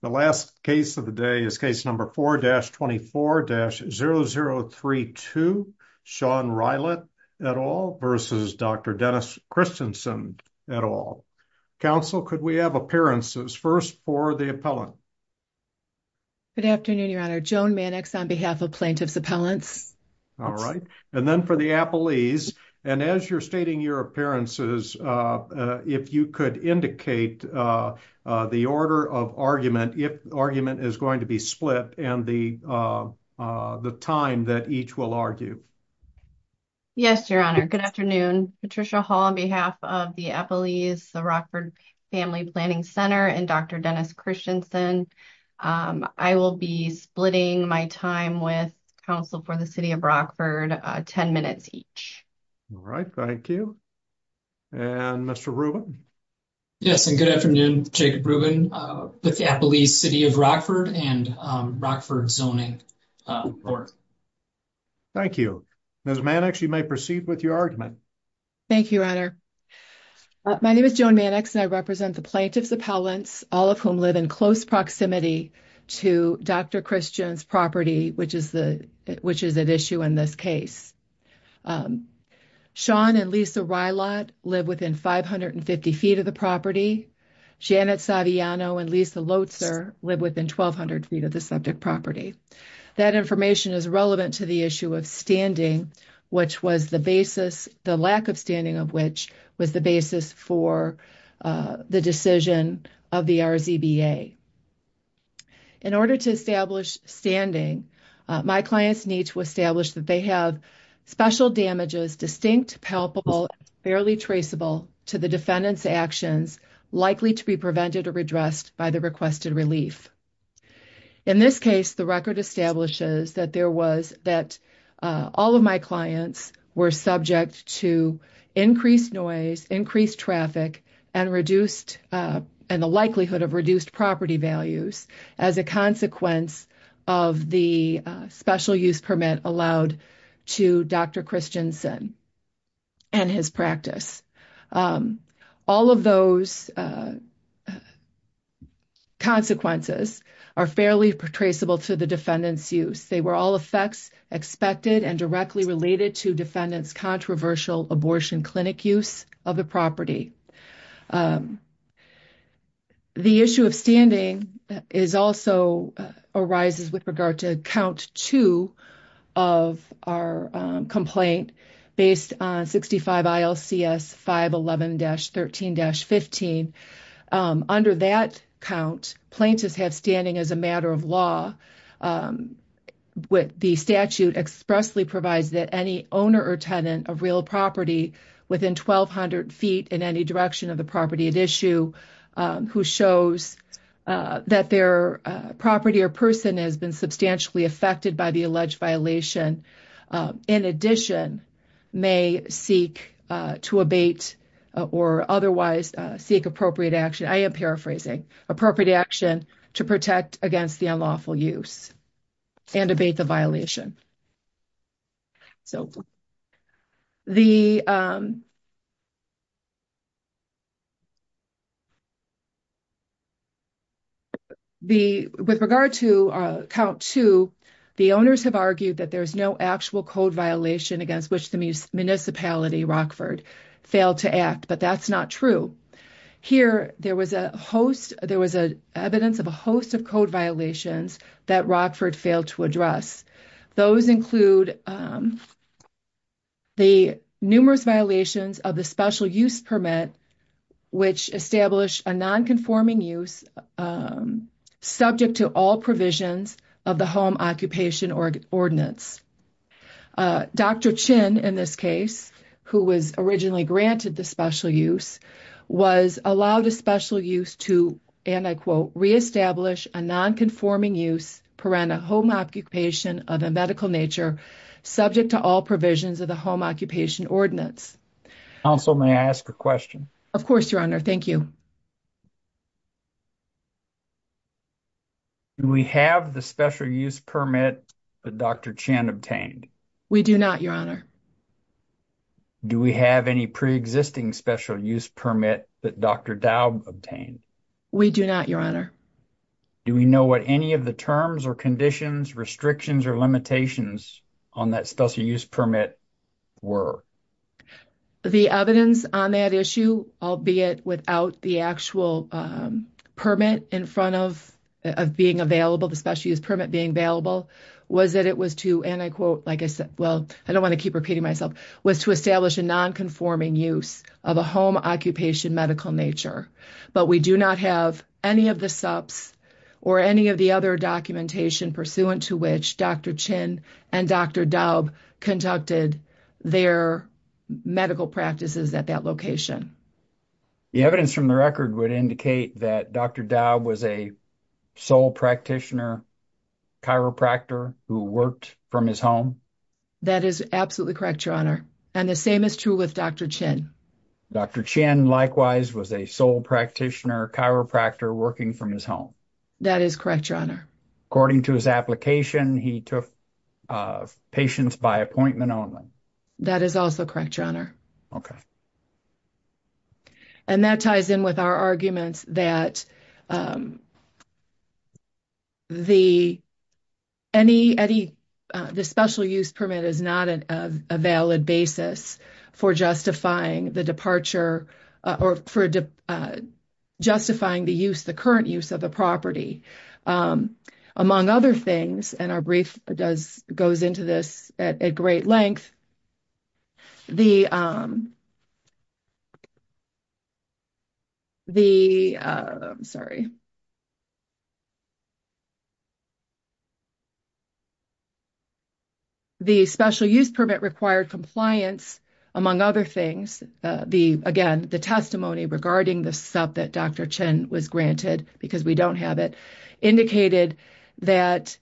The last case of the day is case number 4-24-0032. Sean Rylatt, et al. versus Dr. Dennis Christensen. Council, could we have appearances? First, for the appellant. Good afternoon, Your Honor. Joan Mannix on behalf of plaintiffs appellants. All right, and then for the appellees. And as you're stating your appearances, if you could indicate the order of argument, if argument is going to be split and the time that each will argue. Yes, Your Honor. Good afternoon. Patricia Hall on behalf of the appellees, the Rockford Family Planning Center, and Dr. Dennis Christensen. I will be splitting my time with for the City of Rockford, 10 minutes each. All right, thank you. And Mr. Rubin? Yes, and good afternoon. Jacob Rubin with the Appellees City of Rockford and Rockford Zoning Board. Thank you. Ms. Mannix, you may proceed with your argument. Thank you, Your Honor. My name is Joan Mannix and I represent the plaintiffs appellants, all of whom live in close proximity to Dr. Christensen's property, which is the, which is at issue in this case. Sean and Lisa Rylot live within 550 feet of the property. Janet Saviano and Lisa Lotzer live within 1200 feet of the subject property. That information is relevant to the issue of standing, which was the basis, the lack of standing of which was the basis for the decision of the RZBA. In order to establish standing, my clients need to establish that they have special damages, distinct palpable, barely traceable to the defendant's actions, likely to be prevented or redressed by the requested relief. In this case, the record establishes that there was, that all of my clients were subject to increased noise, increased traffic, and reduced, and the likelihood of reduced property values as a consequence of the special use permit allowed to Dr. Christensen and his practice. All of those consequences are fairly traceable to the defendant's use. They were all effects expected and directly related to defendant's controversial abortion clinic use of the property. The issue of standing is also arises with regard to count two of our complaint based on 65 ILCS 511-13-15. Under that count, plaintiffs have standing as a matter of law. The statute expressly provides that any owner or tenant of real property within 1,200 feet in any direction of the property at issue who shows that their property or person has been substantially affected by the alleged violation, in addition, may seek to abate or otherwise seek appropriate action. I am paraphrasing, appropriate action to protect against the unlawful use and abate the violation. So, the, the, with regard to count two, the owners have argued that there's no actual code violation against which the municipality Rockford failed to act, but that's not true. Here, there was a host, there was a evidence of a host of code violations that Rockford failed to address. Those include the numerous violations of the special use permit, which established a non-conforming use subject to all provisions of the Home Occupation Ordinance. Dr. Chin, in this case, who was originally granted the special use, was allowed a special use to, and I quote, re-establish a non-conforming use per home occupation of a medical nature subject to all provisions of the Home Occupation Ordinance. Council, may I ask a question? Of course, Your Honor. Thank you. Do we have the special use permit that Dr. Chin obtained? We do not, Your Honor. Do we have any pre-existing special use permit that Dr. Dow obtained? We do not, Your Honor. Do we know what any of the terms or conditions, restrictions, or limitations on that special use permit were? The evidence on that issue, albeit without the actual permit in front of being available, the special use permit being available, was that it was to, and I quote, like I said, well, I don't want to keep repeating myself, was to establish a non-conforming use of a home occupation medical nature. But we do not have any of the SUPS or any of the other documentation pursuant to which Dr. Chin and Dr. Dow conducted their medical practices at that location. The evidence from the record would indicate that Dr. Dow was a sole practitioner, chiropractor, who worked from his home? That is absolutely correct, Your Honor. And the same is true with Dr. Chin. Dr. Chin, likewise, was a sole practitioner, chiropractor, working from his home? That is correct, Your Honor. According to his application, he took patients by appointment only? That is also correct, Your Honor. Okay. And that ties in with our arguments that the special use permit is not a valid basis for justifying the departure or for justifying the use, the current use, of the property. Among other things, and our brief goes into this at great length, the special use permit required compliance, among other things, again, the testimony regarding the SUP that Dr. Chin was granted, because we don't have it, indicated that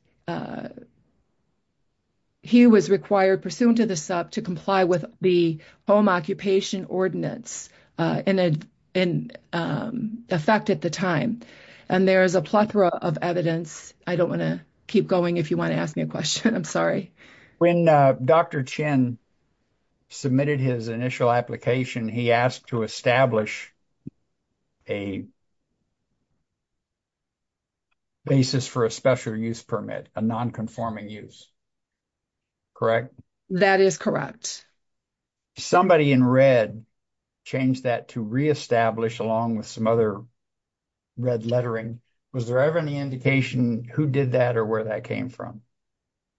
he was required, pursuant to the SUP, to comply with the home occupation ordinance in effect at the time. And there is a plethora of evidence. I don't want to keep going if you want to ask me a question. I'm sorry. When Dr. Chin submitted his initial application, he asked to establish a basis for a special use permit, a non-conforming use, correct? That is correct. Somebody in red changed that to re-establish along with some other red lettering. Was there ever any indication who did that or where that came from?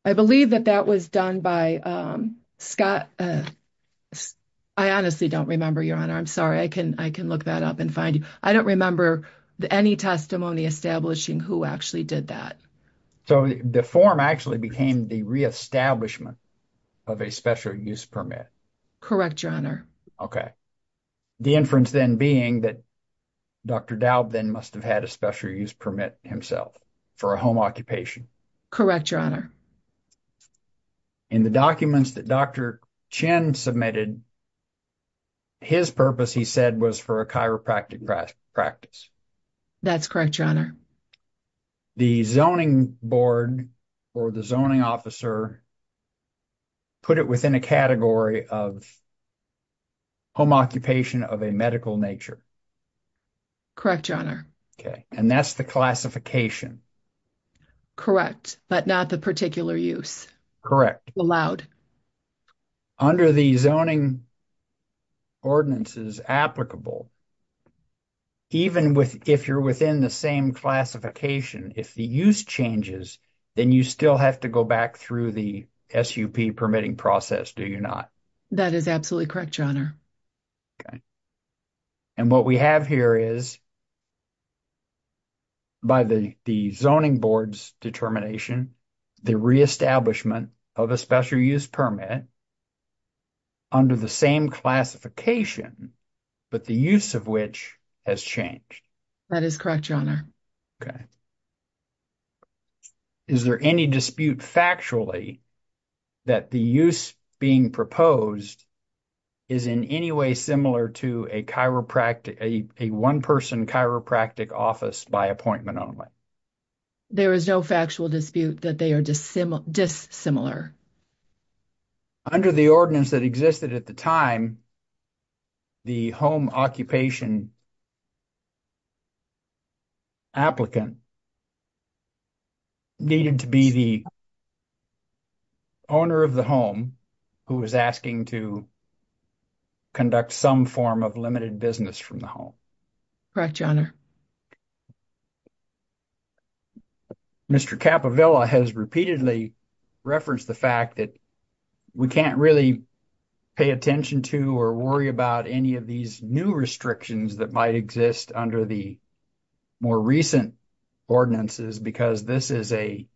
I believe that that was done by Scott. I honestly don't remember, Your Honor. I'm sorry. I can look that up and find you. I don't remember any testimony establishing who actually did that. So the form actually became the re-establishment of a special use permit? Correct, Your Honor. Okay. The inference then being that Dr. Daub then must have had a special use permit himself for a home occupation? Correct, Your Honor. In the documents that Dr. Chin submitted, his purpose, he said, was for a chiropractic practice. That's correct, Your Honor. The zoning board or the zoning officer put it within a category of home occupation of a medical nature? Correct, Your Honor. Okay. And that's the classification? Correct, but not the particular use? Correct. Allowed? Under the zoning ordinances applicable, even with if you're within the same classification, if the use changes, then you still have to go back through the SUP permitting process, do you not? That is absolutely correct, Your Honor. Okay. And what we have here is by the zoning board's determination, the re-establishment of a special use permit under the same classification, but the use of which has changed? That is correct, Your Honor. Okay. Is there any dispute factually that the use being proposed is in any way similar to a chiropractic, a one-person chiropractic office by appointment only? There is no factual dispute that they are dissimilar. Under the ordinance that existed at the time, the home occupation applicant needed to be the owner of the home who was asking to conduct some form of limited business from the home. Correct, Your Honor. Mr. Capovilla has repeatedly referenced the fact that we can't really pay attention to or worry about any of these new restrictions that might exist under the more recent ordinances because this is a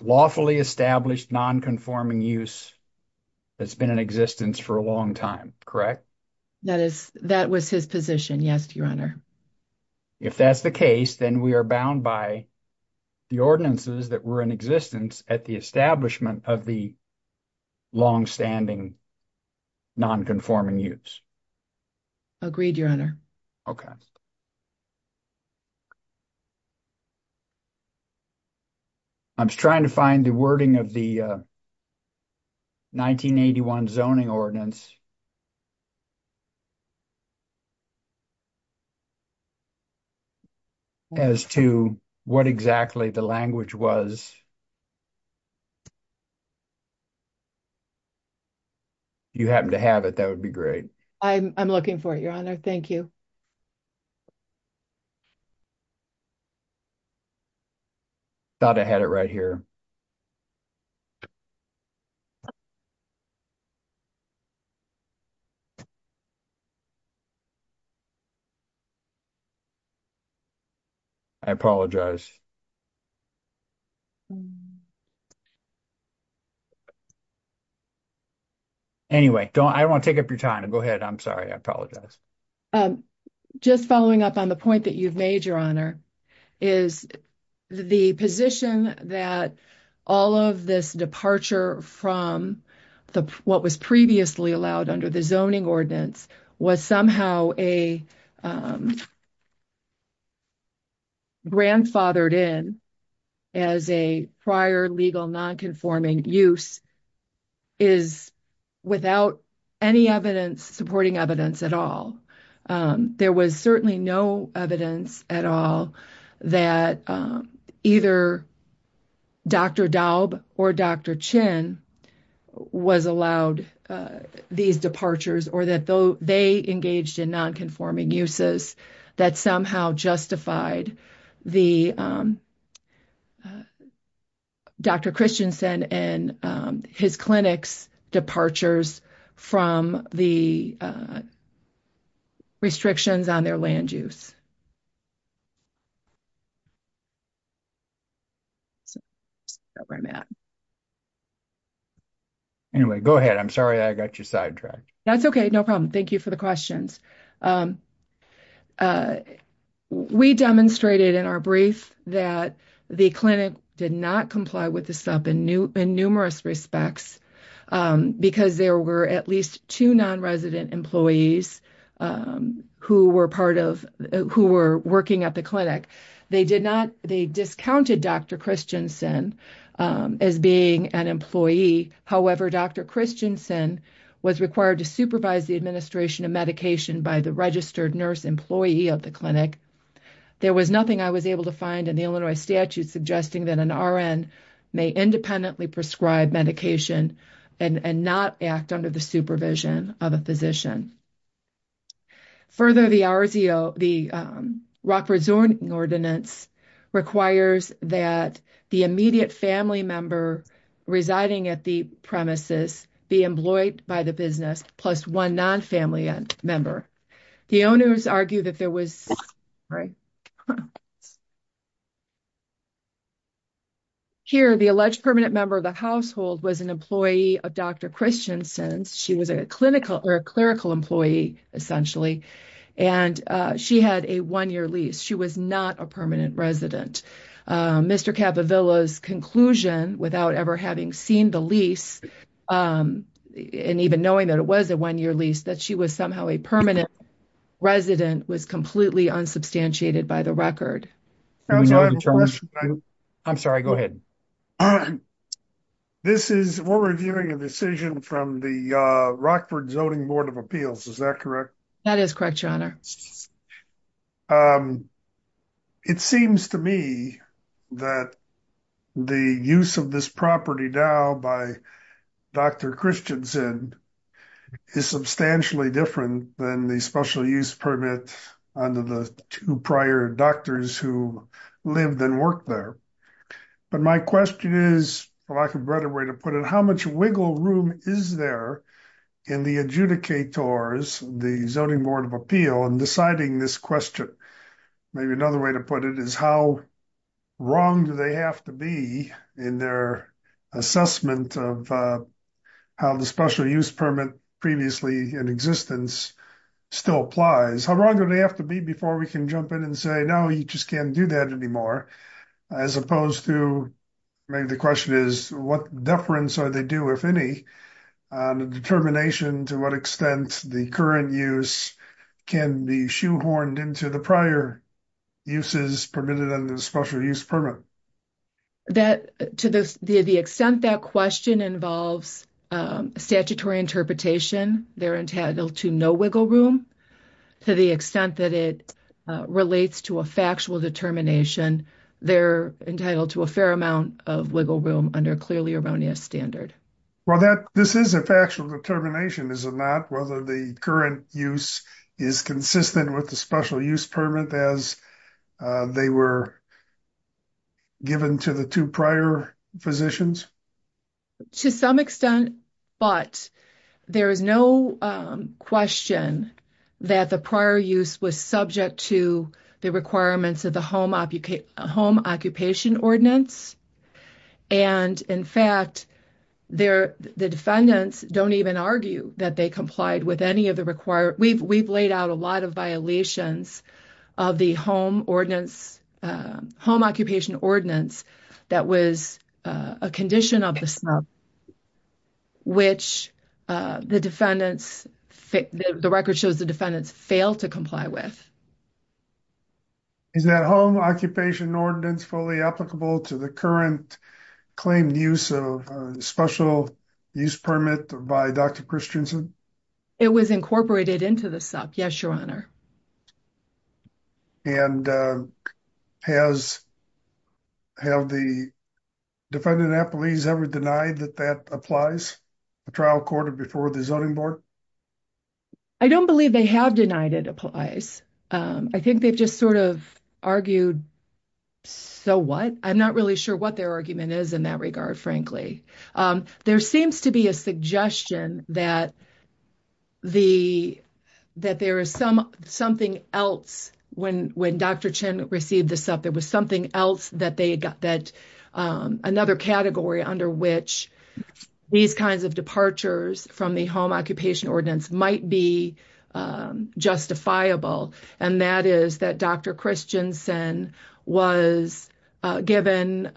lawfully established non-conforming use that's been in existence for a long time, correct? That was his position, yes, Your Honor. If that's the case, then we are bound by the ordinances that were in existence at the establishment of the long-standing non-conforming use. Agreed, Your Honor. Okay. I was trying to find the wording of the 1981 zoning ordinance as to what exactly the language was. If you happen to have it, that would be great. I'm looking for it, Your Honor. Thank you. Thought I had it right here. I apologize. Anyway, I don't want to take up your time. Go ahead. I'm sorry. I apologize. I'm just following up on the point that you've made, Your Honor, is the position that all of this departure from what was previously allowed under the zoning ordinance was somehow grandfathered in as a prior legal non-conforming use is without any supporting evidence at all. There was certainly no evidence at all that either Dr. Daub or Dr. Chin was allowed these departures or that they engaged in non-conforming uses that somehow justified Dr. Christensen and his clinic's departures from the restrictions on their land use. Anyway, go ahead. I'm sorry I got you sidetracked. That's okay. No problem. Thank you for the clarification. We demonstrated in our brief that the clinic did not comply with the sub in numerous respects because there were at least two non-resident employees who were working at the clinic. They discounted Dr. Christensen as being an employee. However, Dr. Christensen was required to supervise the administration of medication by the registered nurse employee of the clinic. There was nothing I was able to find in the Illinois statute suggesting that an RN may independently prescribe medication and not act under the supervision of a physician. Further, the ROC rezoning ordinance requires that the immediate family member residing at the premises be employed by the business plus one non-family member. The owners argue that there was here the alleged permanent member of the household was an employee of Dr. Christensen. She was a clinical or a clerical employee essentially and she had a one-year lease. She was not a permanent resident. Mr. Capovilla's conclusion without ever having seen the lease and even knowing that it was a one-year lease that she was somehow a permanent resident was completely unsubstantiated by the record. I'm sorry, go ahead. This is we're reviewing a decision from the Rockford Zoning Board of Appeals, is that correct? That is correct, your honor. It seems to me that the use of this property now by Dr. Christensen is substantially different than the special use permit under the two prior doctors who lived and worked there. But my question is, well I can better way to put it, how much wiggle room is there in the adjudicators, the Zoning Board of Appeal and deciding this question? Maybe another way to put it is how wrong do they have to be in their assessment of how the special use permit previously in existence still applies? How wrong do they have to be before we can jump in and say, no you just can't do that anymore? As opposed to maybe the question is what deference are they due, if any, on the determination to what extent the current use can be shoehorned into the prior uses permitted under the special use permit? That to the extent that question involves statutory interpretation, they're entitled to no wiggle room. To the extent that it relates to a factual determination, they're entitled to fair amount of wiggle room under a clearly erroneous standard. Well this is a factual determination, is it not? Whether the current use is consistent with the special use permit as they were given to the two prior physicians? To some extent, but there is no question that the prior use was subject to the requirements of the Home Occupation Ordinance. In fact, the defendants don't even argue that they complied with any of the requirements. We've laid out a lot of violations of the Home Occupation Ordinance that was a condition of the defendants failed to comply with. Is that Home Occupation Ordinance fully applicable to the current claimed use of special use permit by Dr. Christensen? It was incorporated into the SUP, yes your honor. And has, have the defendant at police ever denied that that applies a trial court before the zoning board? I don't believe they have denied it applies. I think they've just sort of argued, so what? I'm not really sure what their argument is in that regard, frankly. There seems to be a suggestion that there is something else when Dr. Chen received the SUP. There was something else that they got that another category under which these kinds of departures from the Home Occupation Ordinance might be justifiable. And that is that Dr. Christensen was given,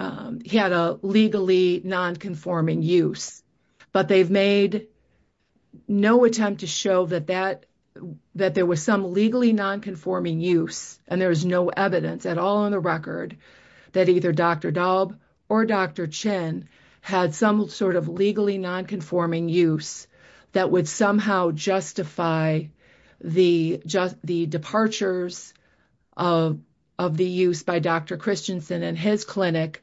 he had a legally non-conforming use, but they've made no attempt to show that that that there was some legally non-conforming use and there is no evidence at all on the record that either Dr. Daub or Dr. Chen had some sort of legally non-conforming use that would somehow justify the just the departures of of the use by Dr. Christensen and his clinic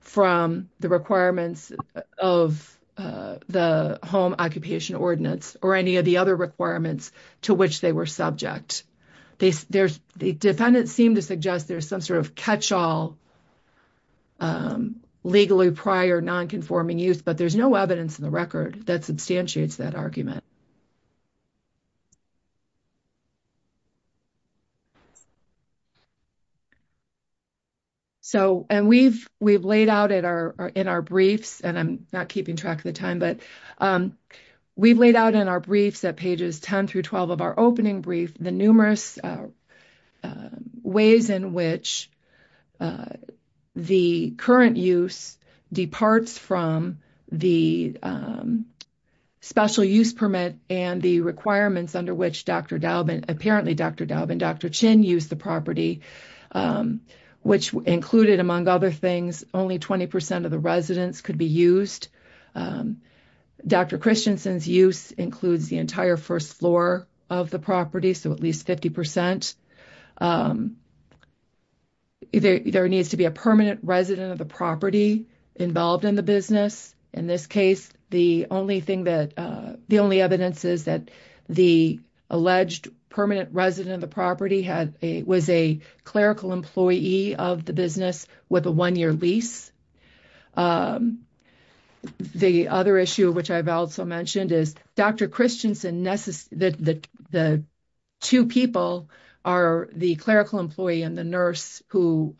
from the requirements of the Home Occupation Ordinance or any of the other requirements to which they were subject. They, there's, the defendants seem to suggest there's some sort of catch-all legally prior non-conforming use, but there's no evidence in the record that substantiates that argument. So, and we've laid out in our briefs, and I'm not keeping track of the time, but we've laid out in our briefs at pages 10 through 12 of our opening brief the numerous ways in which the current use departs from the special use permit and the requirements under which Dr. Daub and, apparently Dr. Daub and Dr. Chen used the property, which included, among other things, only 20% of the residents could be used. Dr. Christensen's use includes the entire first floor of the property, so at least 50%. There needs to be a permanent resident of the property involved in the business. In this case, the only thing that, the only evidence is that the alleged permanent resident of the property had a, was a clerical employee of the business with a one-year lease. The other issue, which I've also mentioned, is Dr. Christensen, the two people are the clerical employee and the nurse who,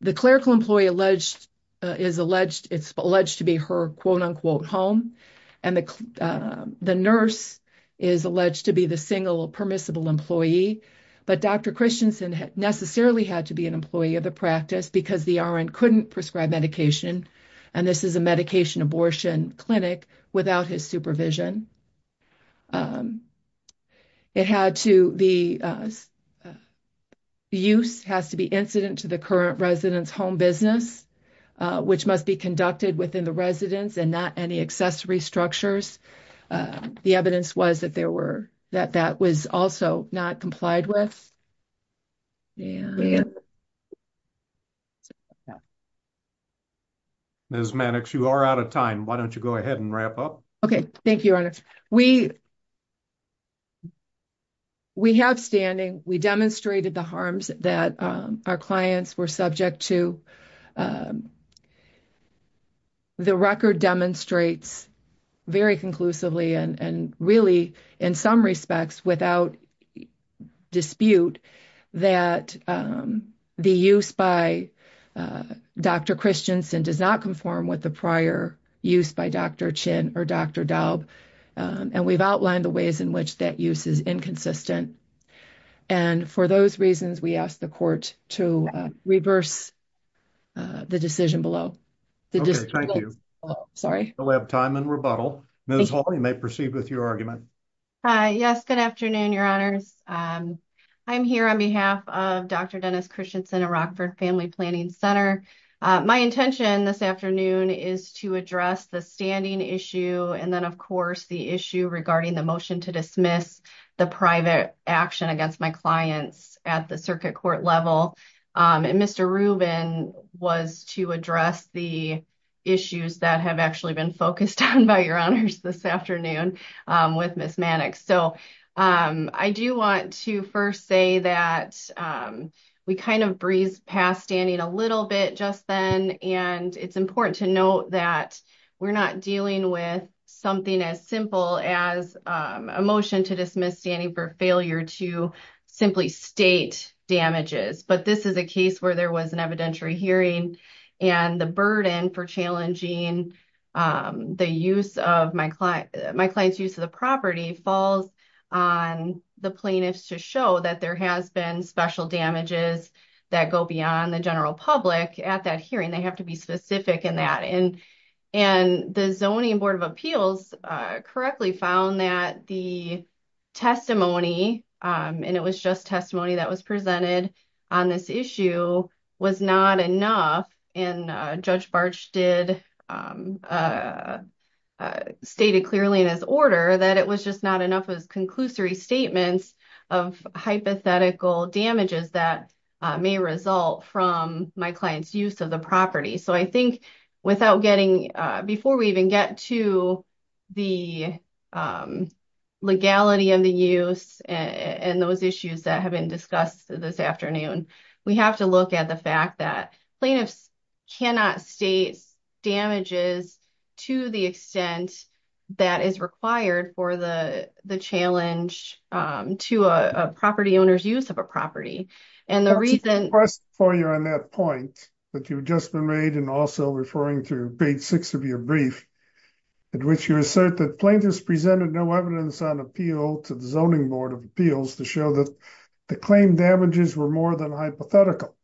the clerical employee alleged, is alleged, it's alleged to be her quote-unquote home, and the nurse is alleged to be the single permissible employee, but Dr. Christensen necessarily had to be an employee of the practice because the RN couldn't prescribe medication, and this is a medication abortion clinic without his supervision. It had to, the use has to be incident to the current resident's home business, which must be conducted within the residence and not any accessory structures. The evidence was that there were, that that was also not complied with. Ms. Mannix, you are out of time. Why don't you go ahead and wrap up? Okay, thank you, Your Honor. We, we have standing. We demonstrated the harms that our clients were subject to. The record demonstrates very conclusively, and really in some respects without dispute, that the use by Dr. Christensen does not conform with the prior use by Dr. Chin or Dr. Daub, and we've outlined the ways in which that use is inconsistent, and for those reasons, we ask the court to reverse the decision below. Sorry, we'll have time and rebuttal. Ms. Hawley, you may proceed with your argument. Hi, yes, good afternoon, Your Honors. I'm here on behalf of Dr. Dennis Christensen at Rockford Family Planning Center. My intention this afternoon is to address the standing issue, and then, of course, the issue regarding the motion to dismiss the private action against my clients at the circuit court level, and Mr. Rubin was to address the issues that have actually been focused on by Your Honors this afternoon with Ms. Mannix, so I do want to first say that we kind of breezed past standing a little bit just then, and it's important to note that we're not dealing with something as simple as a motion to dismiss standing for failure to simply state damages, but this is a case where there was an evidentiary hearing, and the burden for challenging my client's use of the property falls on the plaintiffs to show that there has been special damages that go beyond the general public at that hearing. They have to be specific in that, and the Zoning Board of Appeals correctly found that the testimony, and it was just testimony that was presented on this issue, was not enough, and Judge Bartsch did state it clearly in his order that it was just not enough as conclusory statements of hypothetical damages that may result from my client's use of the property, so I think without getting, before we even get to the legality of the use and those issues that have been discussed this afternoon, we have to look at the fact that plaintiffs cannot state damages to the extent that is required for the challenge to a property owner's use of a property, and the reason for you on that point that you've just been made, and also referring to page six of your brief, in which you assert that plaintiffs presented no evidence on appeal to the Zoning Board of Appeals to show that the claim damages were more than hypothetical.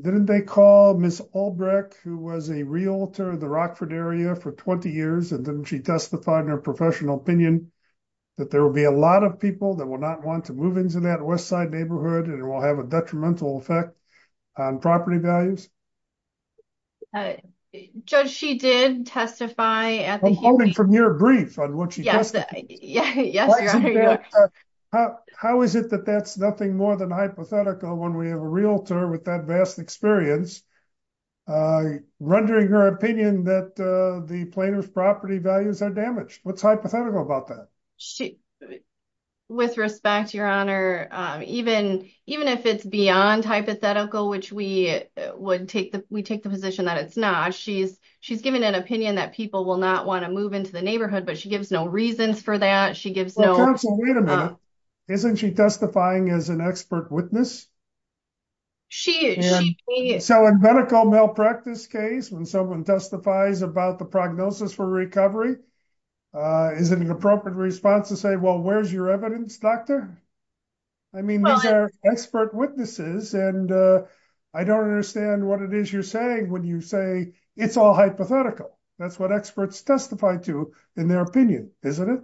Didn't they call Ms. Albrecht, who was a realtor in the Rockford area for 20 years, and then she testified in her professional opinion that there will be a lot of people that will not want to move into that Westside neighborhood, and it will have a detrimental effect on property values? Judge, she did testify at the hearing. I'm quoting from your brief on what she testified. How is it that that's nothing more than hypothetical when we have a realtor with that vast experience rendering her opinion that the plaintiff's property values are damaged? What's hypothetical about that? With respect, Your Honor, even if it's beyond hypothetical, which we take the position that it's not, she's given an opinion that people will not want to move into the neighborhood, but she gives no reasons for that. Wait a minute. Isn't she testifying as an expert witness? So in medical malpractice case, when someone testifies about prognosis for recovery, is it an appropriate response to say, well, where's your evidence, doctor? I mean, these are expert witnesses, and I don't understand what it is you're saying when you say it's all hypothetical. That's what experts testify to in their opinion, isn't it?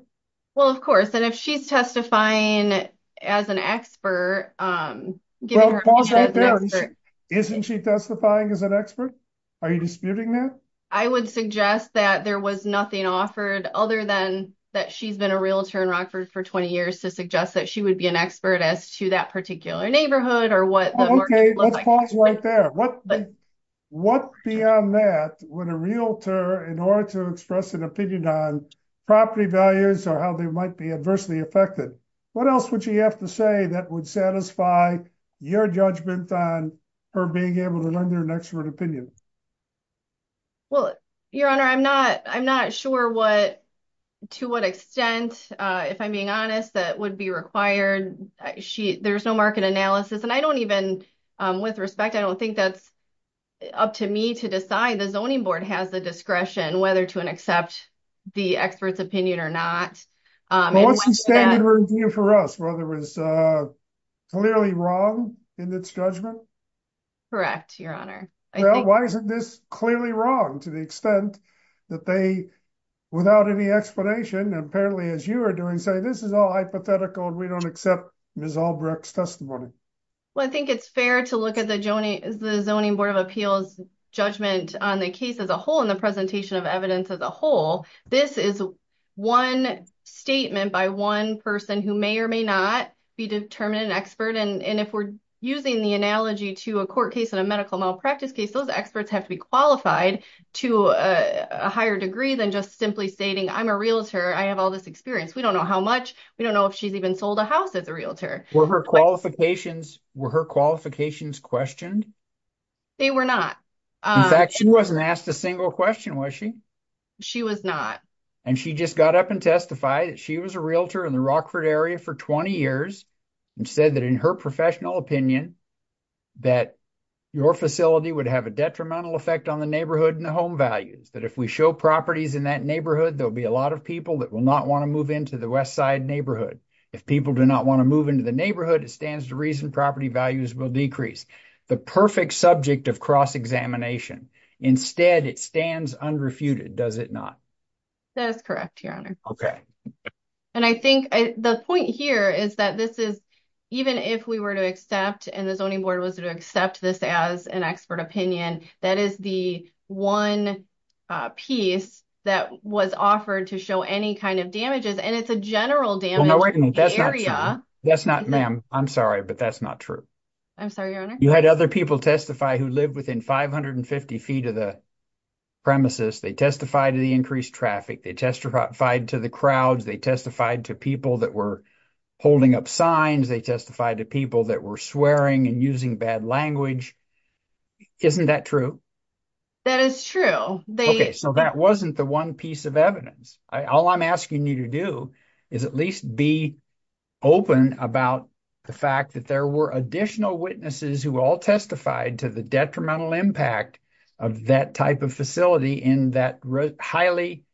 Well, of course, and if she's testifying as an expert... Isn't she testifying as an expert? Are you disputing that? I would suggest that there was nothing offered other than that she's been a realtor in Rockford for 20 years to suggest that she would be an expert as to that particular neighborhood or what... Okay, let's pause right there. What beyond that would a realtor, in order to express an opinion on property values or how they might be adversely affected, what else would she have to say that would satisfy your judgment on her being able to learn their expert opinion? Well, Your Honor, I'm not sure to what extent, if I'm being honest, that would be required. There's no market analysis, and I don't even... With respect, I don't think that's up to me to decide. The Zoning Board has the discretion whether to accept the expert's opinion or not. But what's the standard review for us? Whether it was clearly wrong in its judgment? Correct, Your Honor. Why isn't this clearly wrong to the extent that they, without any explanation, apparently as you are doing, say this is all hypothetical and we don't accept Ms. Albrecht's Well, I think it's fair to look at the Zoning Board of Appeals judgment on the case as a whole and the presentation of evidence as a whole. This is one statement by one person who may or may not be determined an expert. And if we're using the analogy to a court case and a medical malpractice case, those experts have to be qualified to a higher degree than just simply stating, I'm a realtor, I have all this experience. We don't know how much. We don't know if she's even sold a house as a realtor. Were her qualifications questioned? They were not. In fact, she wasn't asked a single question, was she? She was not. And she just got up and testified that she was a realtor in the Rockford area for 20 years and said that in her professional opinion, that your facility would have a detrimental effect on the neighborhood and the home values. That if we show properties in that neighborhood, there'll be a lot of people that will not want to move into the west side neighborhood. If people do not want to move into the neighborhood, it stands to reason property values will decrease. The perfect subject of cross-examination. Instead, it stands unrefuted, does it not? That is correct, Your Honor. And I think the point here is that this is, even if we were to accept, and the Zoning Board was to accept this as an expert opinion, that is the one piece that was offered to show any kind of damages. And it's a general damage area. That's not, ma'am. I'm sorry, but that's not true. I'm sorry, Your Honor. You had other people testify who lived within 550 feet of the premises. They testified to the increased traffic. They testified to the crowds. They testified to people that were holding up signs. They testified to people that were swearing and using bad language. Isn't that true? That is true. Okay, so that wasn't the one piece of evidence. All I'm asking you to do is at least be open about the fact that there were additional witnesses who all testified to the detrimental impact of that type of facility in that highly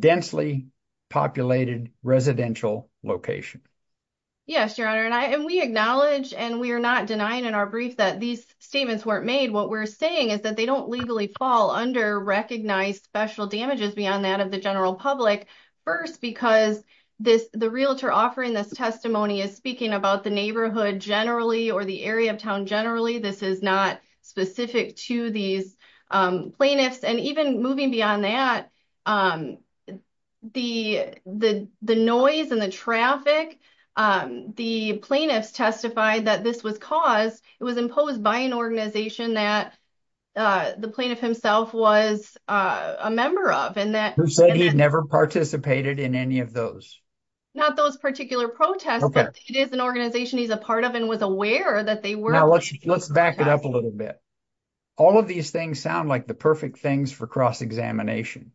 densely populated residential location. Yes, Your Honor. And we acknowledge and we are not denying in our brief that these statements weren't made. What we're saying is that they don't legally fall under recognized special damages beyond that of the general public. First, because the realtor offering this testimony is speaking about the neighborhood generally or the area of town generally. This is not specific to these plaintiffs. And even moving beyond that, the noise and the traffic, the plaintiffs testified that this was caused, it was imposed by an organization that the plaintiff himself was a member of. Who said he never participated in any of those? Not those particular protests, but it is an organization he's a part of and was aware that they were. Now let's back it up a little bit. All of these things sound like the perfect things for cross-examination.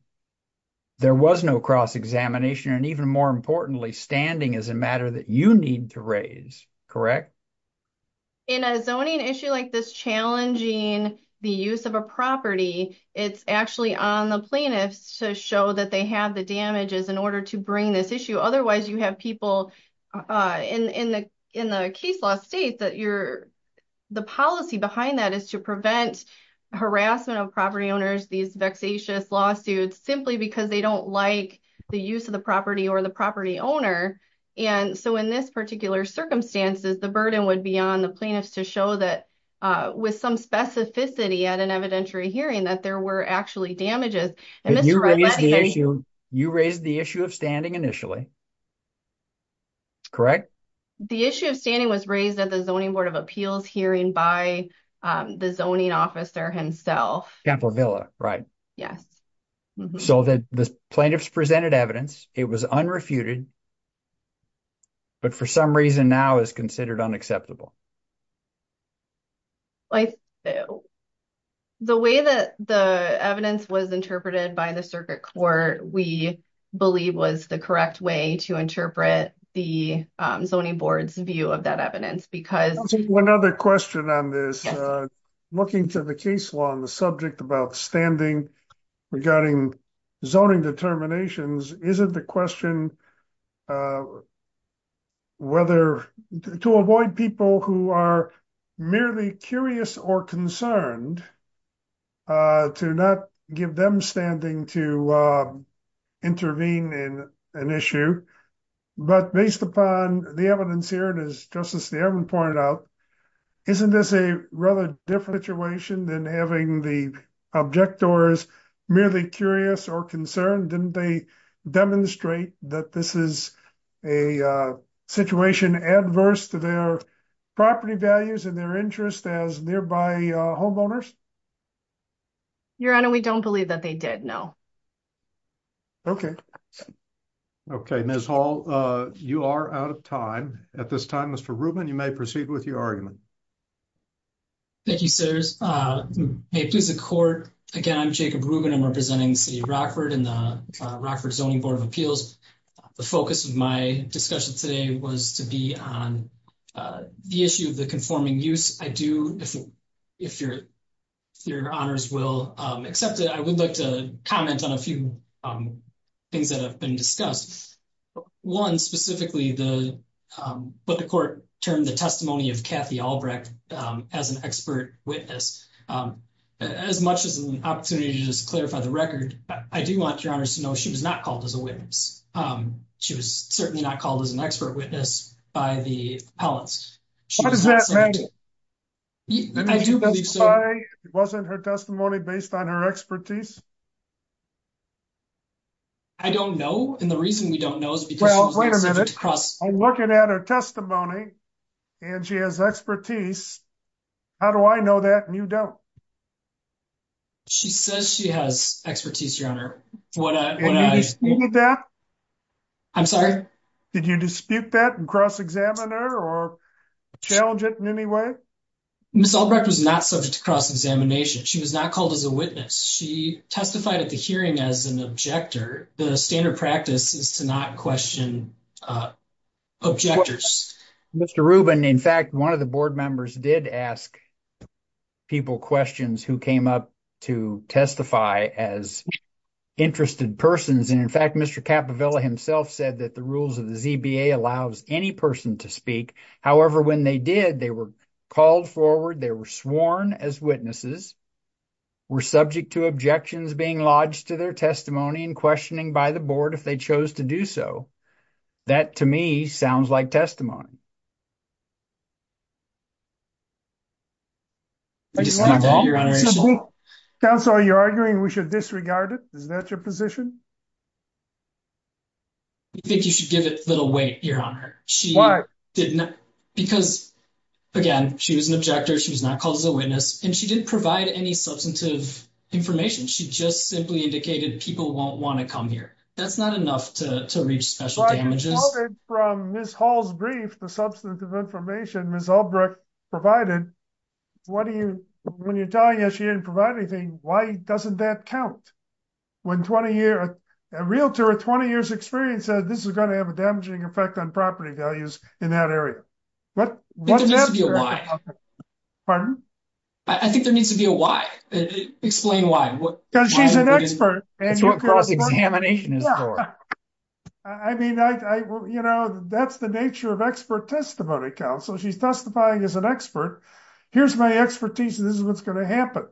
There was no cross-examination and even more importantly, standing is a matter that you need to raise, correct? In a zoning issue like this challenging the use of a property, it's actually on the plaintiffs to show that they have the damages in order to bring this issue. Otherwise you have people in the case law state that the policy behind that is to prevent harassment of property owners, these vexatious lawsuits, simply because they don't like the use of the property or the property owner. And so in this particular circumstances, the burden would be on the plaintiffs to show that with some specificity at an evidentiary hearing that there were actually damages. And you raised the issue of standing initially, correct? The issue of standing was raised at the Zoning Board of Appeals hearing by the zoning officer himself. Campbell Villa, right? Yes. So the plaintiffs presented evidence, it was unrefuted, but for some reason now is considered unacceptable. I think the way that the evidence was interpreted by the circuit court, we believe was the correct way to interpret the Zoning Board's view of that evidence because- I'll take one other question on this. Looking to the case law on the subject about standing regarding zoning determinations, isn't the question whether to avoid people who are merely curious or concerned to not give them standing to intervene in an issue. But based upon the evidence here, and as Justice Staben pointed out, isn't this a rather different situation than having the objectors merely curious or concerned? Didn't they demonstrate that this is a situation adverse to their property values and their interests as nearby homeowners? Your Honor, we don't believe that they did, no. Okay. Okay, Ms. Hall, you are out of time. At this time, Mr. Rubin, you may proceed with your argument. Thank you, sirs. Hey, please, the court, again, I'm Jacob Rubin. I'm representing the City of Rockford and the Rockford Zoning Board of Appeals. The focus of my discussion today was to be on the issue of the conforming use. I do, if your honors will accept it, I would like to comment on a few things that have been discussed. One, specifically, what the court termed the testimony of Kathy Albrecht as an expert witness. As much as an opportunity to just clarify the record, I do want your honors to know she was not called as a witness. She was certainly not called as an expert witness by the appellants. What does that mean? I do believe so. That means that's why it wasn't her testimony based on her expertise? I don't know, and the reason we don't know is because she was not subject to cross- Well, wait a minute. I'm looking at her testimony, and she has expertise. How do I know that and you don't? She says she has expertise, your honor. What I- Did you dispute that? I'm sorry? Did you dispute that and cross-examine her or challenge it in any way? Ms. Albrecht was not subject to cross-examination. She was not called as a witness. She testified at the hearing as an objector. The standard practice is to not question objectors. Mr. Rubin, in fact, one of the board members did ask people questions who came up to testify as interested persons, and in fact, Mr. Capovella himself said that the rules of the ZBA allows any person to speak. However, when they did, they were called forward. They were sworn as witnesses, were subject to objections being lodged to their testimony and questioning by the board if they chose to do so. That, to me, sounds like testimony. Did you dispute that, your honor? Counsel, are you arguing we should disregard it? Is that your position? I think you should give it a little weight, your honor. Why? Because, again, she was an objector. She was not called as a witness, and she didn't provide any substantive information. She just simply indicated people won't want to come here. That's not enough to reach special damages. Well, I recalled it from Ms. Hall's brief, the substantive information Ms. Albrecht provided. When you're telling us she didn't provide anything, why doesn't that count? A realtor with 20 years' experience said this is going to have a damaging effect on property values in that area. I think there needs to be a why. Pardon? I think there needs to be a why. Explain why. She's an expert. That's what cross-examination is for. I mean, that's the nature of expert testimony, counsel. She's testifying as an expert. Here's my expertise, and this is what's going to happen.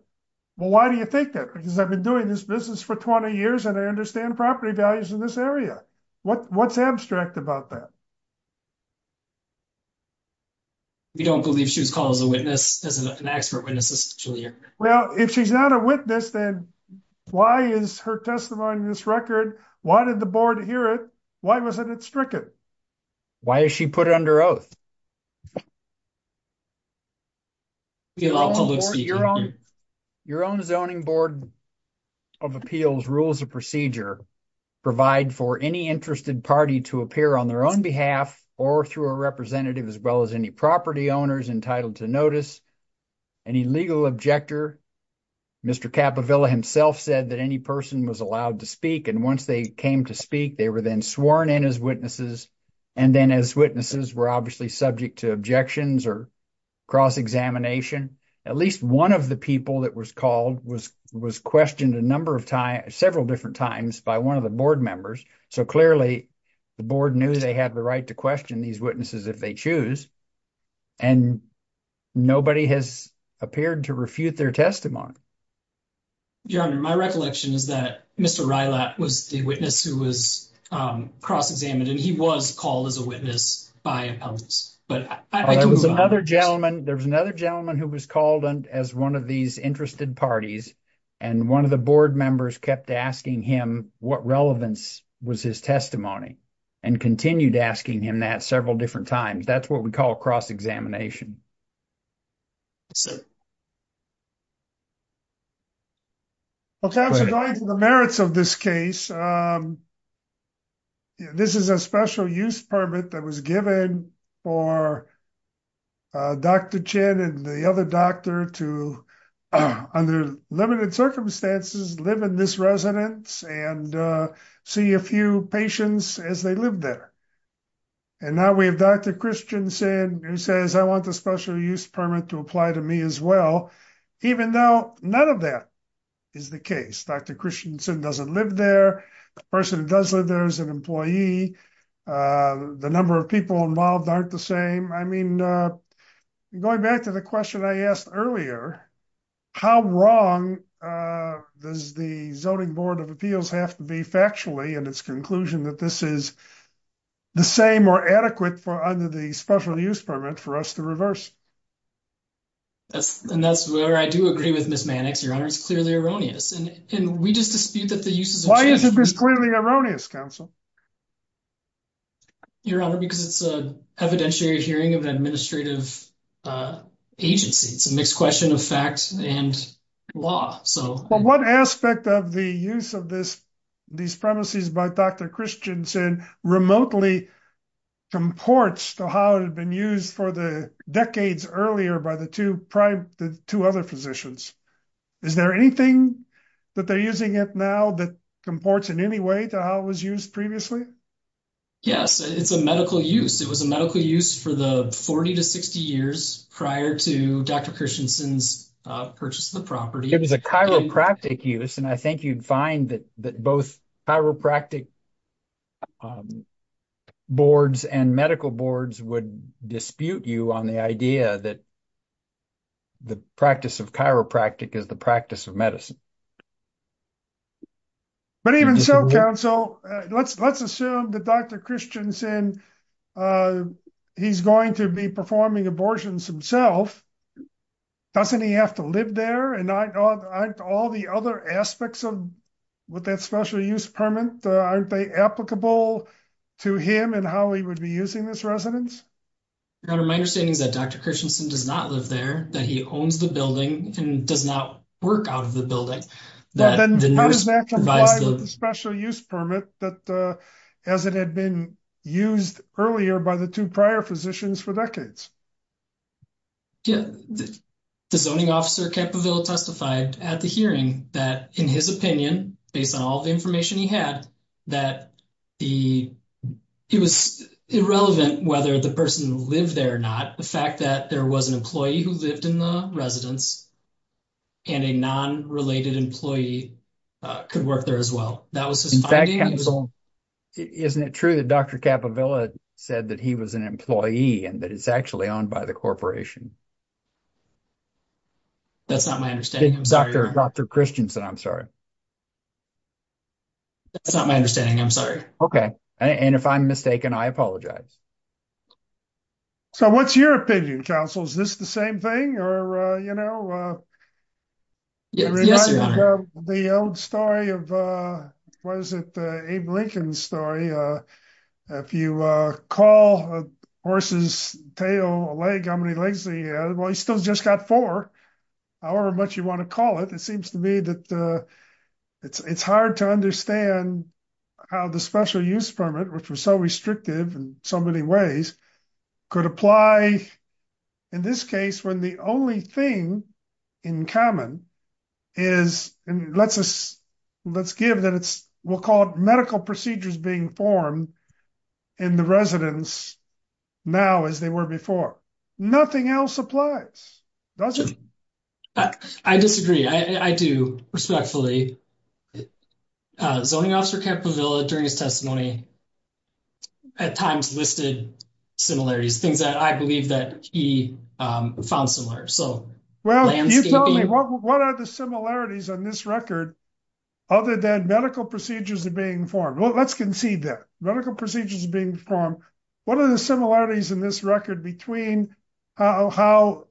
Well, why do you think that? Because I've been doing this business for 20 years, and I understand property values in this area. What's abstract about that? We don't believe she was called as a witness, as an expert witness, Mr. Julia. Well, if she's not a witness, then why is her testimony in this record? Why did the board hear it? Why wasn't it stricken? Why is she put under oath? Your own Zoning Board of Appeals rules of procedure provide for any interested party to appear on their own behalf or through a representative, as well as any property owners entitled to notice any legal objector. Mr. Capovilla himself said that any person was allowed to speak, and once they came to speak, they were then sworn in as witnesses, and then as witnesses were obviously subject to objections or cross-examination. At least one of the people that was called was questioned a number of times, several different times by one of the board members. So clearly, the board knew they had the right to question these witnesses if they choose, and nobody has appeared to refute their testimony. Your Honor, my recollection is that Mr. Rylat was the witness who was cross-examined, and he was called as a witness by appellants. But I can move on. There was another gentleman who was called as one of these interested parties, and one of the board members kept asking him what relevance was his testimony, and continued asking him that several different times. That's what we call cross-examination. MR. RYLAT Well, counsel, going to the merits of this case, this is a special use permit that was given for Dr. Chen and the other doctor to, under limited circumstances, live in this residence and see a few patients as they live there. And now we have Dr. Christensen who says, I want the special use permit to apply to me as well, even though none of that is the case. Dr. Christensen doesn't live there. The person who does live there is an employee. The number of people involved aren't the same. I mean, going back to the question I asked earlier, how wrong does the Zoning Board of Appeals have to be factually in its conclusion that this is the same or adequate under the special use permit for us to reverse? MR. RYLAT And that's where I do agree with Ms. Mannix, Your Honor. It's clearly erroneous. And we just dispute that the use is— Why is it clearly erroneous, counsel? MR. RYLAT Your Honor, because it's an evidentiary hearing of an administrative agency. It's a mixed question of fact and law. What aspect of the use of these premises by Dr. Christensen remotely comports to how it had been used for the decades earlier by the two other physicians? Is there anything that they're using it now that comports in any way to how it was used previously? MR. RYLAT Yes, it's a medical use. It was a medical use for the 40 to 60 years prior to Dr. Christensen's purchase of the property. It was a chiropractic use. And I think you'd find that both chiropractic boards and medical boards would dispute you on the idea that the practice of chiropractic is the practice of medicine. MR. SCHROEDER But even so, counsel, let's assume that Dr. Christensen, he's going to be performing abortions himself. Doesn't he have to live there? And aren't all the other aspects of that special use permit, aren't they applicable to him and how he would be using this residence? MR. RYLAT Your Honor, my understanding is that Dr. Christensen does not live there, that he owns the building and does not work out of the building. Then how does that comply with the special use permit that as it had been used earlier by the two prior physicians for decades? MR. SCHROEDER Yeah. The zoning officer, Capovilla, testified at the hearing that in his opinion, based on all the information he had, that it was irrelevant whether the person lived there or not. The fact that there was an employee who lived in the residence and a non-related employee could work there as well. In fact, counsel, isn't it true that Dr. Capovilla said that he was an employee and that it's actually owned by the corporation? MR. RYLAT That's not my understanding. I'm sorry. Dr. Christensen, I'm sorry. That's not my understanding. I'm sorry. Okay. And if I'm mistaken, I apologize. So what's your opinion, counsel? Is this the same thing or, you know? Yes, Your Honor. The old story of, what is it, Abe Lincoln's story. If you call a horse's tail a leg, how many legs do you have? Well, he's still just got four, however much you want to call it. It seems to me that it's hard to understand how the special use permit, which was so restrictive in so many ways, could apply in this case when the only thing in common is, and let's give that it's what we'll call medical procedures being formed in the residence now as they were before. Nothing else applies, does it? I disagree. I do, respectfully. Zoning Officer Capovilla, during his testimony, at times listed similarities, things that I believe that he found similar. Well, you tell me, what are the similarities on this record other than medical procedures are being formed? Well, let's concede that. Medical procedures being formed, what are the similarities in this record between how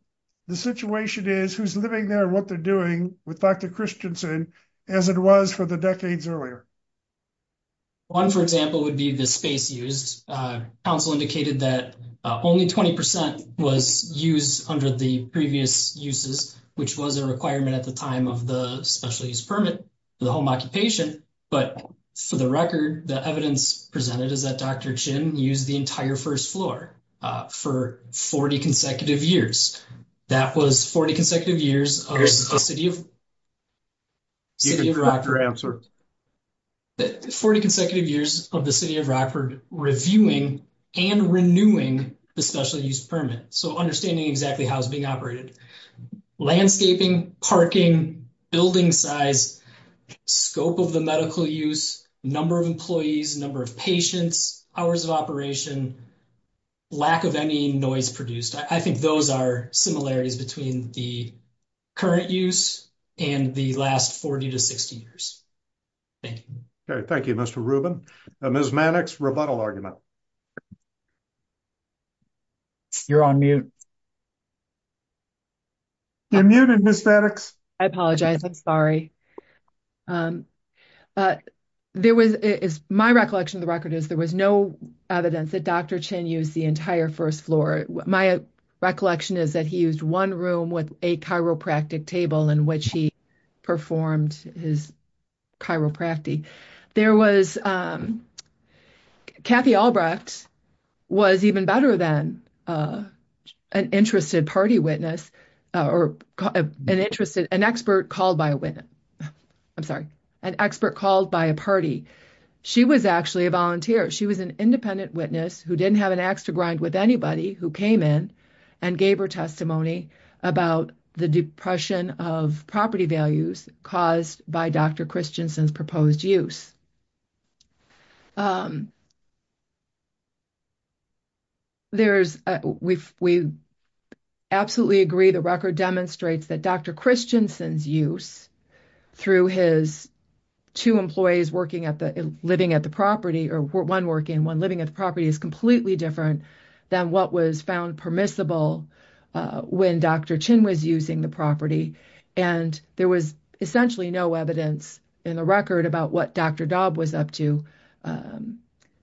the situation is, who's living there, what they're doing with Dr. Christensen as it was for the decades earlier? One, for example, would be the space used. Council indicated that only 20% was used under the previous uses, which was a requirement at the time of the special use permit for the home occupation. But for the record, the evidence presented is that Dr. Chin used the entire first floor for 40 consecutive years. That was 40 consecutive years of the City of Rockford. Answer. 40 consecutive years of the City of Rockford reviewing and renewing the special use permit, so understanding exactly how it's being operated. Landscaping, parking, building size, scope of the medical use, number of employees, number of patients, hours of operation, lack of any noise produced. I think those are similarities between the current use and the last 40 to 60 years. Thank you. Okay. Thank you, Mr. Rubin. Ms. Mannix, rebuttal argument. You're on mute. You're muted, Ms. Mannix. I apologize. I'm sorry. My recollection of the record is there was no evidence that Dr. Chin used the entire first floor. My recollection is that he used one room with a chiropractic table in which he performed his chiropractic. Kathy Albrecht was even better than an interested party witness, or an expert called by a witness. I'm sorry, an expert called by a party. She was actually a volunteer. She was an independent witness who didn't have an ax to grind with anybody who came in and gave her testimony about the depression of property values caused by Dr. Christensen's proposed use. We absolutely agree the record demonstrates that Dr. Christensen's use through his two employees living at the property, or one working and one living at the property, is completely different than what was found permissible when Dr. Chin was using the property. There was essentially no evidence in the record about what Dr. Daub was up to,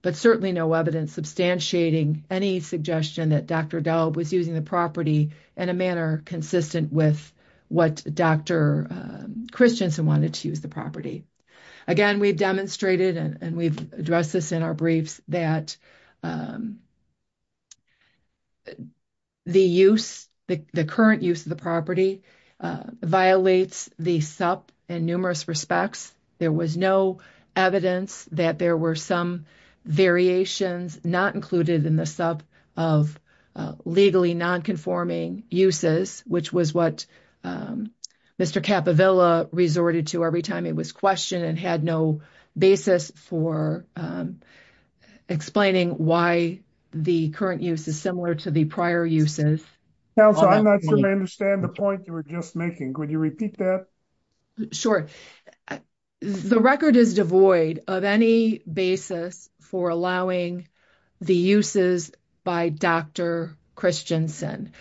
but certainly no evidence substantiating any suggestion that Dr. Daub was using the property in a manner consistent with what Dr. Christensen wanted to use the property. Again, we've demonstrated, and we've addressed this in our briefs, that the current use of the property violates the SUP in numerous respects. There was no evidence that there were some variations not included in the SUP of legally non-conforming uses, which was what Mr. Capovilla resorted to every time it was questioned and had no basis for explaining why the current use is similar to the prior uses. Counselor, I'm not sure I understand the point you were just making. Could you repeat that? Sure. The record is devoid of any basis for allowing the uses by Dr. Christensen.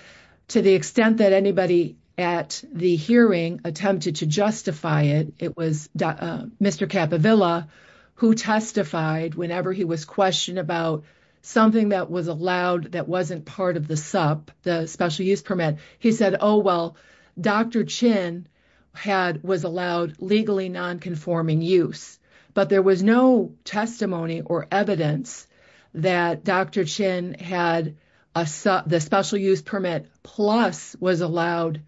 To the extent that anybody at the hearing attempted to justify it, it was Mr. Capovilla who testified whenever he was questioned about something that was allowed that wasn't part of the SUP, the Special Use Permit. He said, oh, well, Dr. Chin was allowed legally non-conforming use, but there was no testimony or evidence that Dr. Chin had the Special Use Permit plus was allowed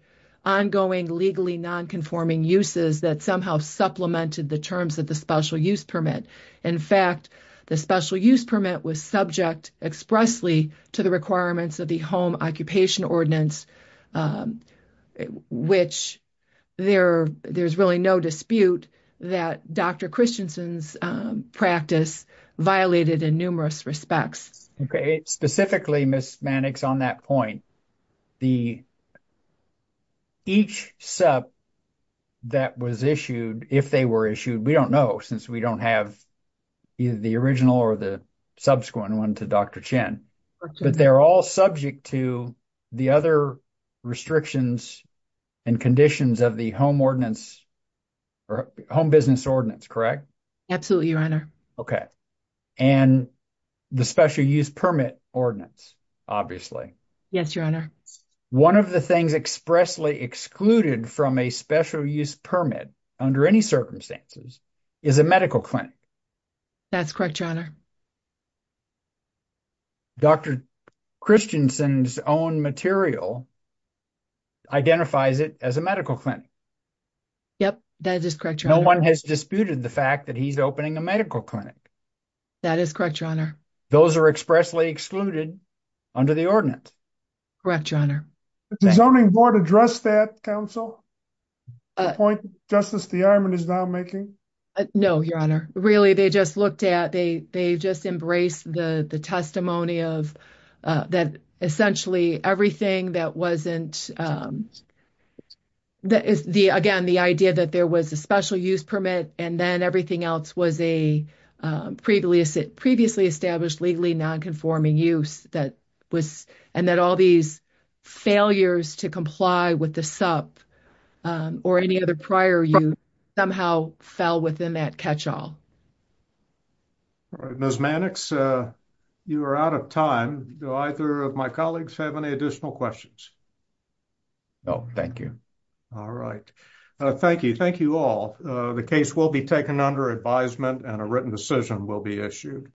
ongoing legally non-conforming uses that somehow supplemented the terms of the Special Use Permit. In fact, the Special Use Permit was subject expressly to the requirements of the Home Occupation Ordinance, which there's really no dispute that Dr. Christensen's practice violated in numerous respects. Specifically, Ms. Mannix, on that point, each SUP that was issued, if they were issued, we don't know since we don't have either the original or the subsequent one to Dr. Chin, but they're all subject to the other restrictions and conditions of the Home Business Ordinance, correct? Absolutely, Your Honor. And the Special Use Permit Ordinance, obviously. Yes, Your Honor. One of the things expressly excluded from a Special Use Permit under any circumstances is a medical clinic. That's correct, Your Honor. Dr. Christensen's own material identifies it as a medical clinic. Yep, that is correct, Your Honor. No one has disputed the fact that he's opening a medical clinic. That is correct, Your Honor. Those are expressly excluded under the ordinance. Correct, Your Honor. Did the Zoning Board address that, Counsel? The point Justice DeArmond is now making? No, Your Honor. Really, they just looked at, they just embraced the testimony of that essentially everything that wasn't, again, the idea that there was a Special Use Permit and then everything else was a previously established legally nonconforming use that and that all these failures to comply with the SUP or any other prior use somehow fell within that catch-all. Ms. Mannix, you are out of time. Do either of my colleagues have any additional questions? No, thank you. All right. Thank you. Thank you all. The case will be taken under advisement and a written decision will be issued.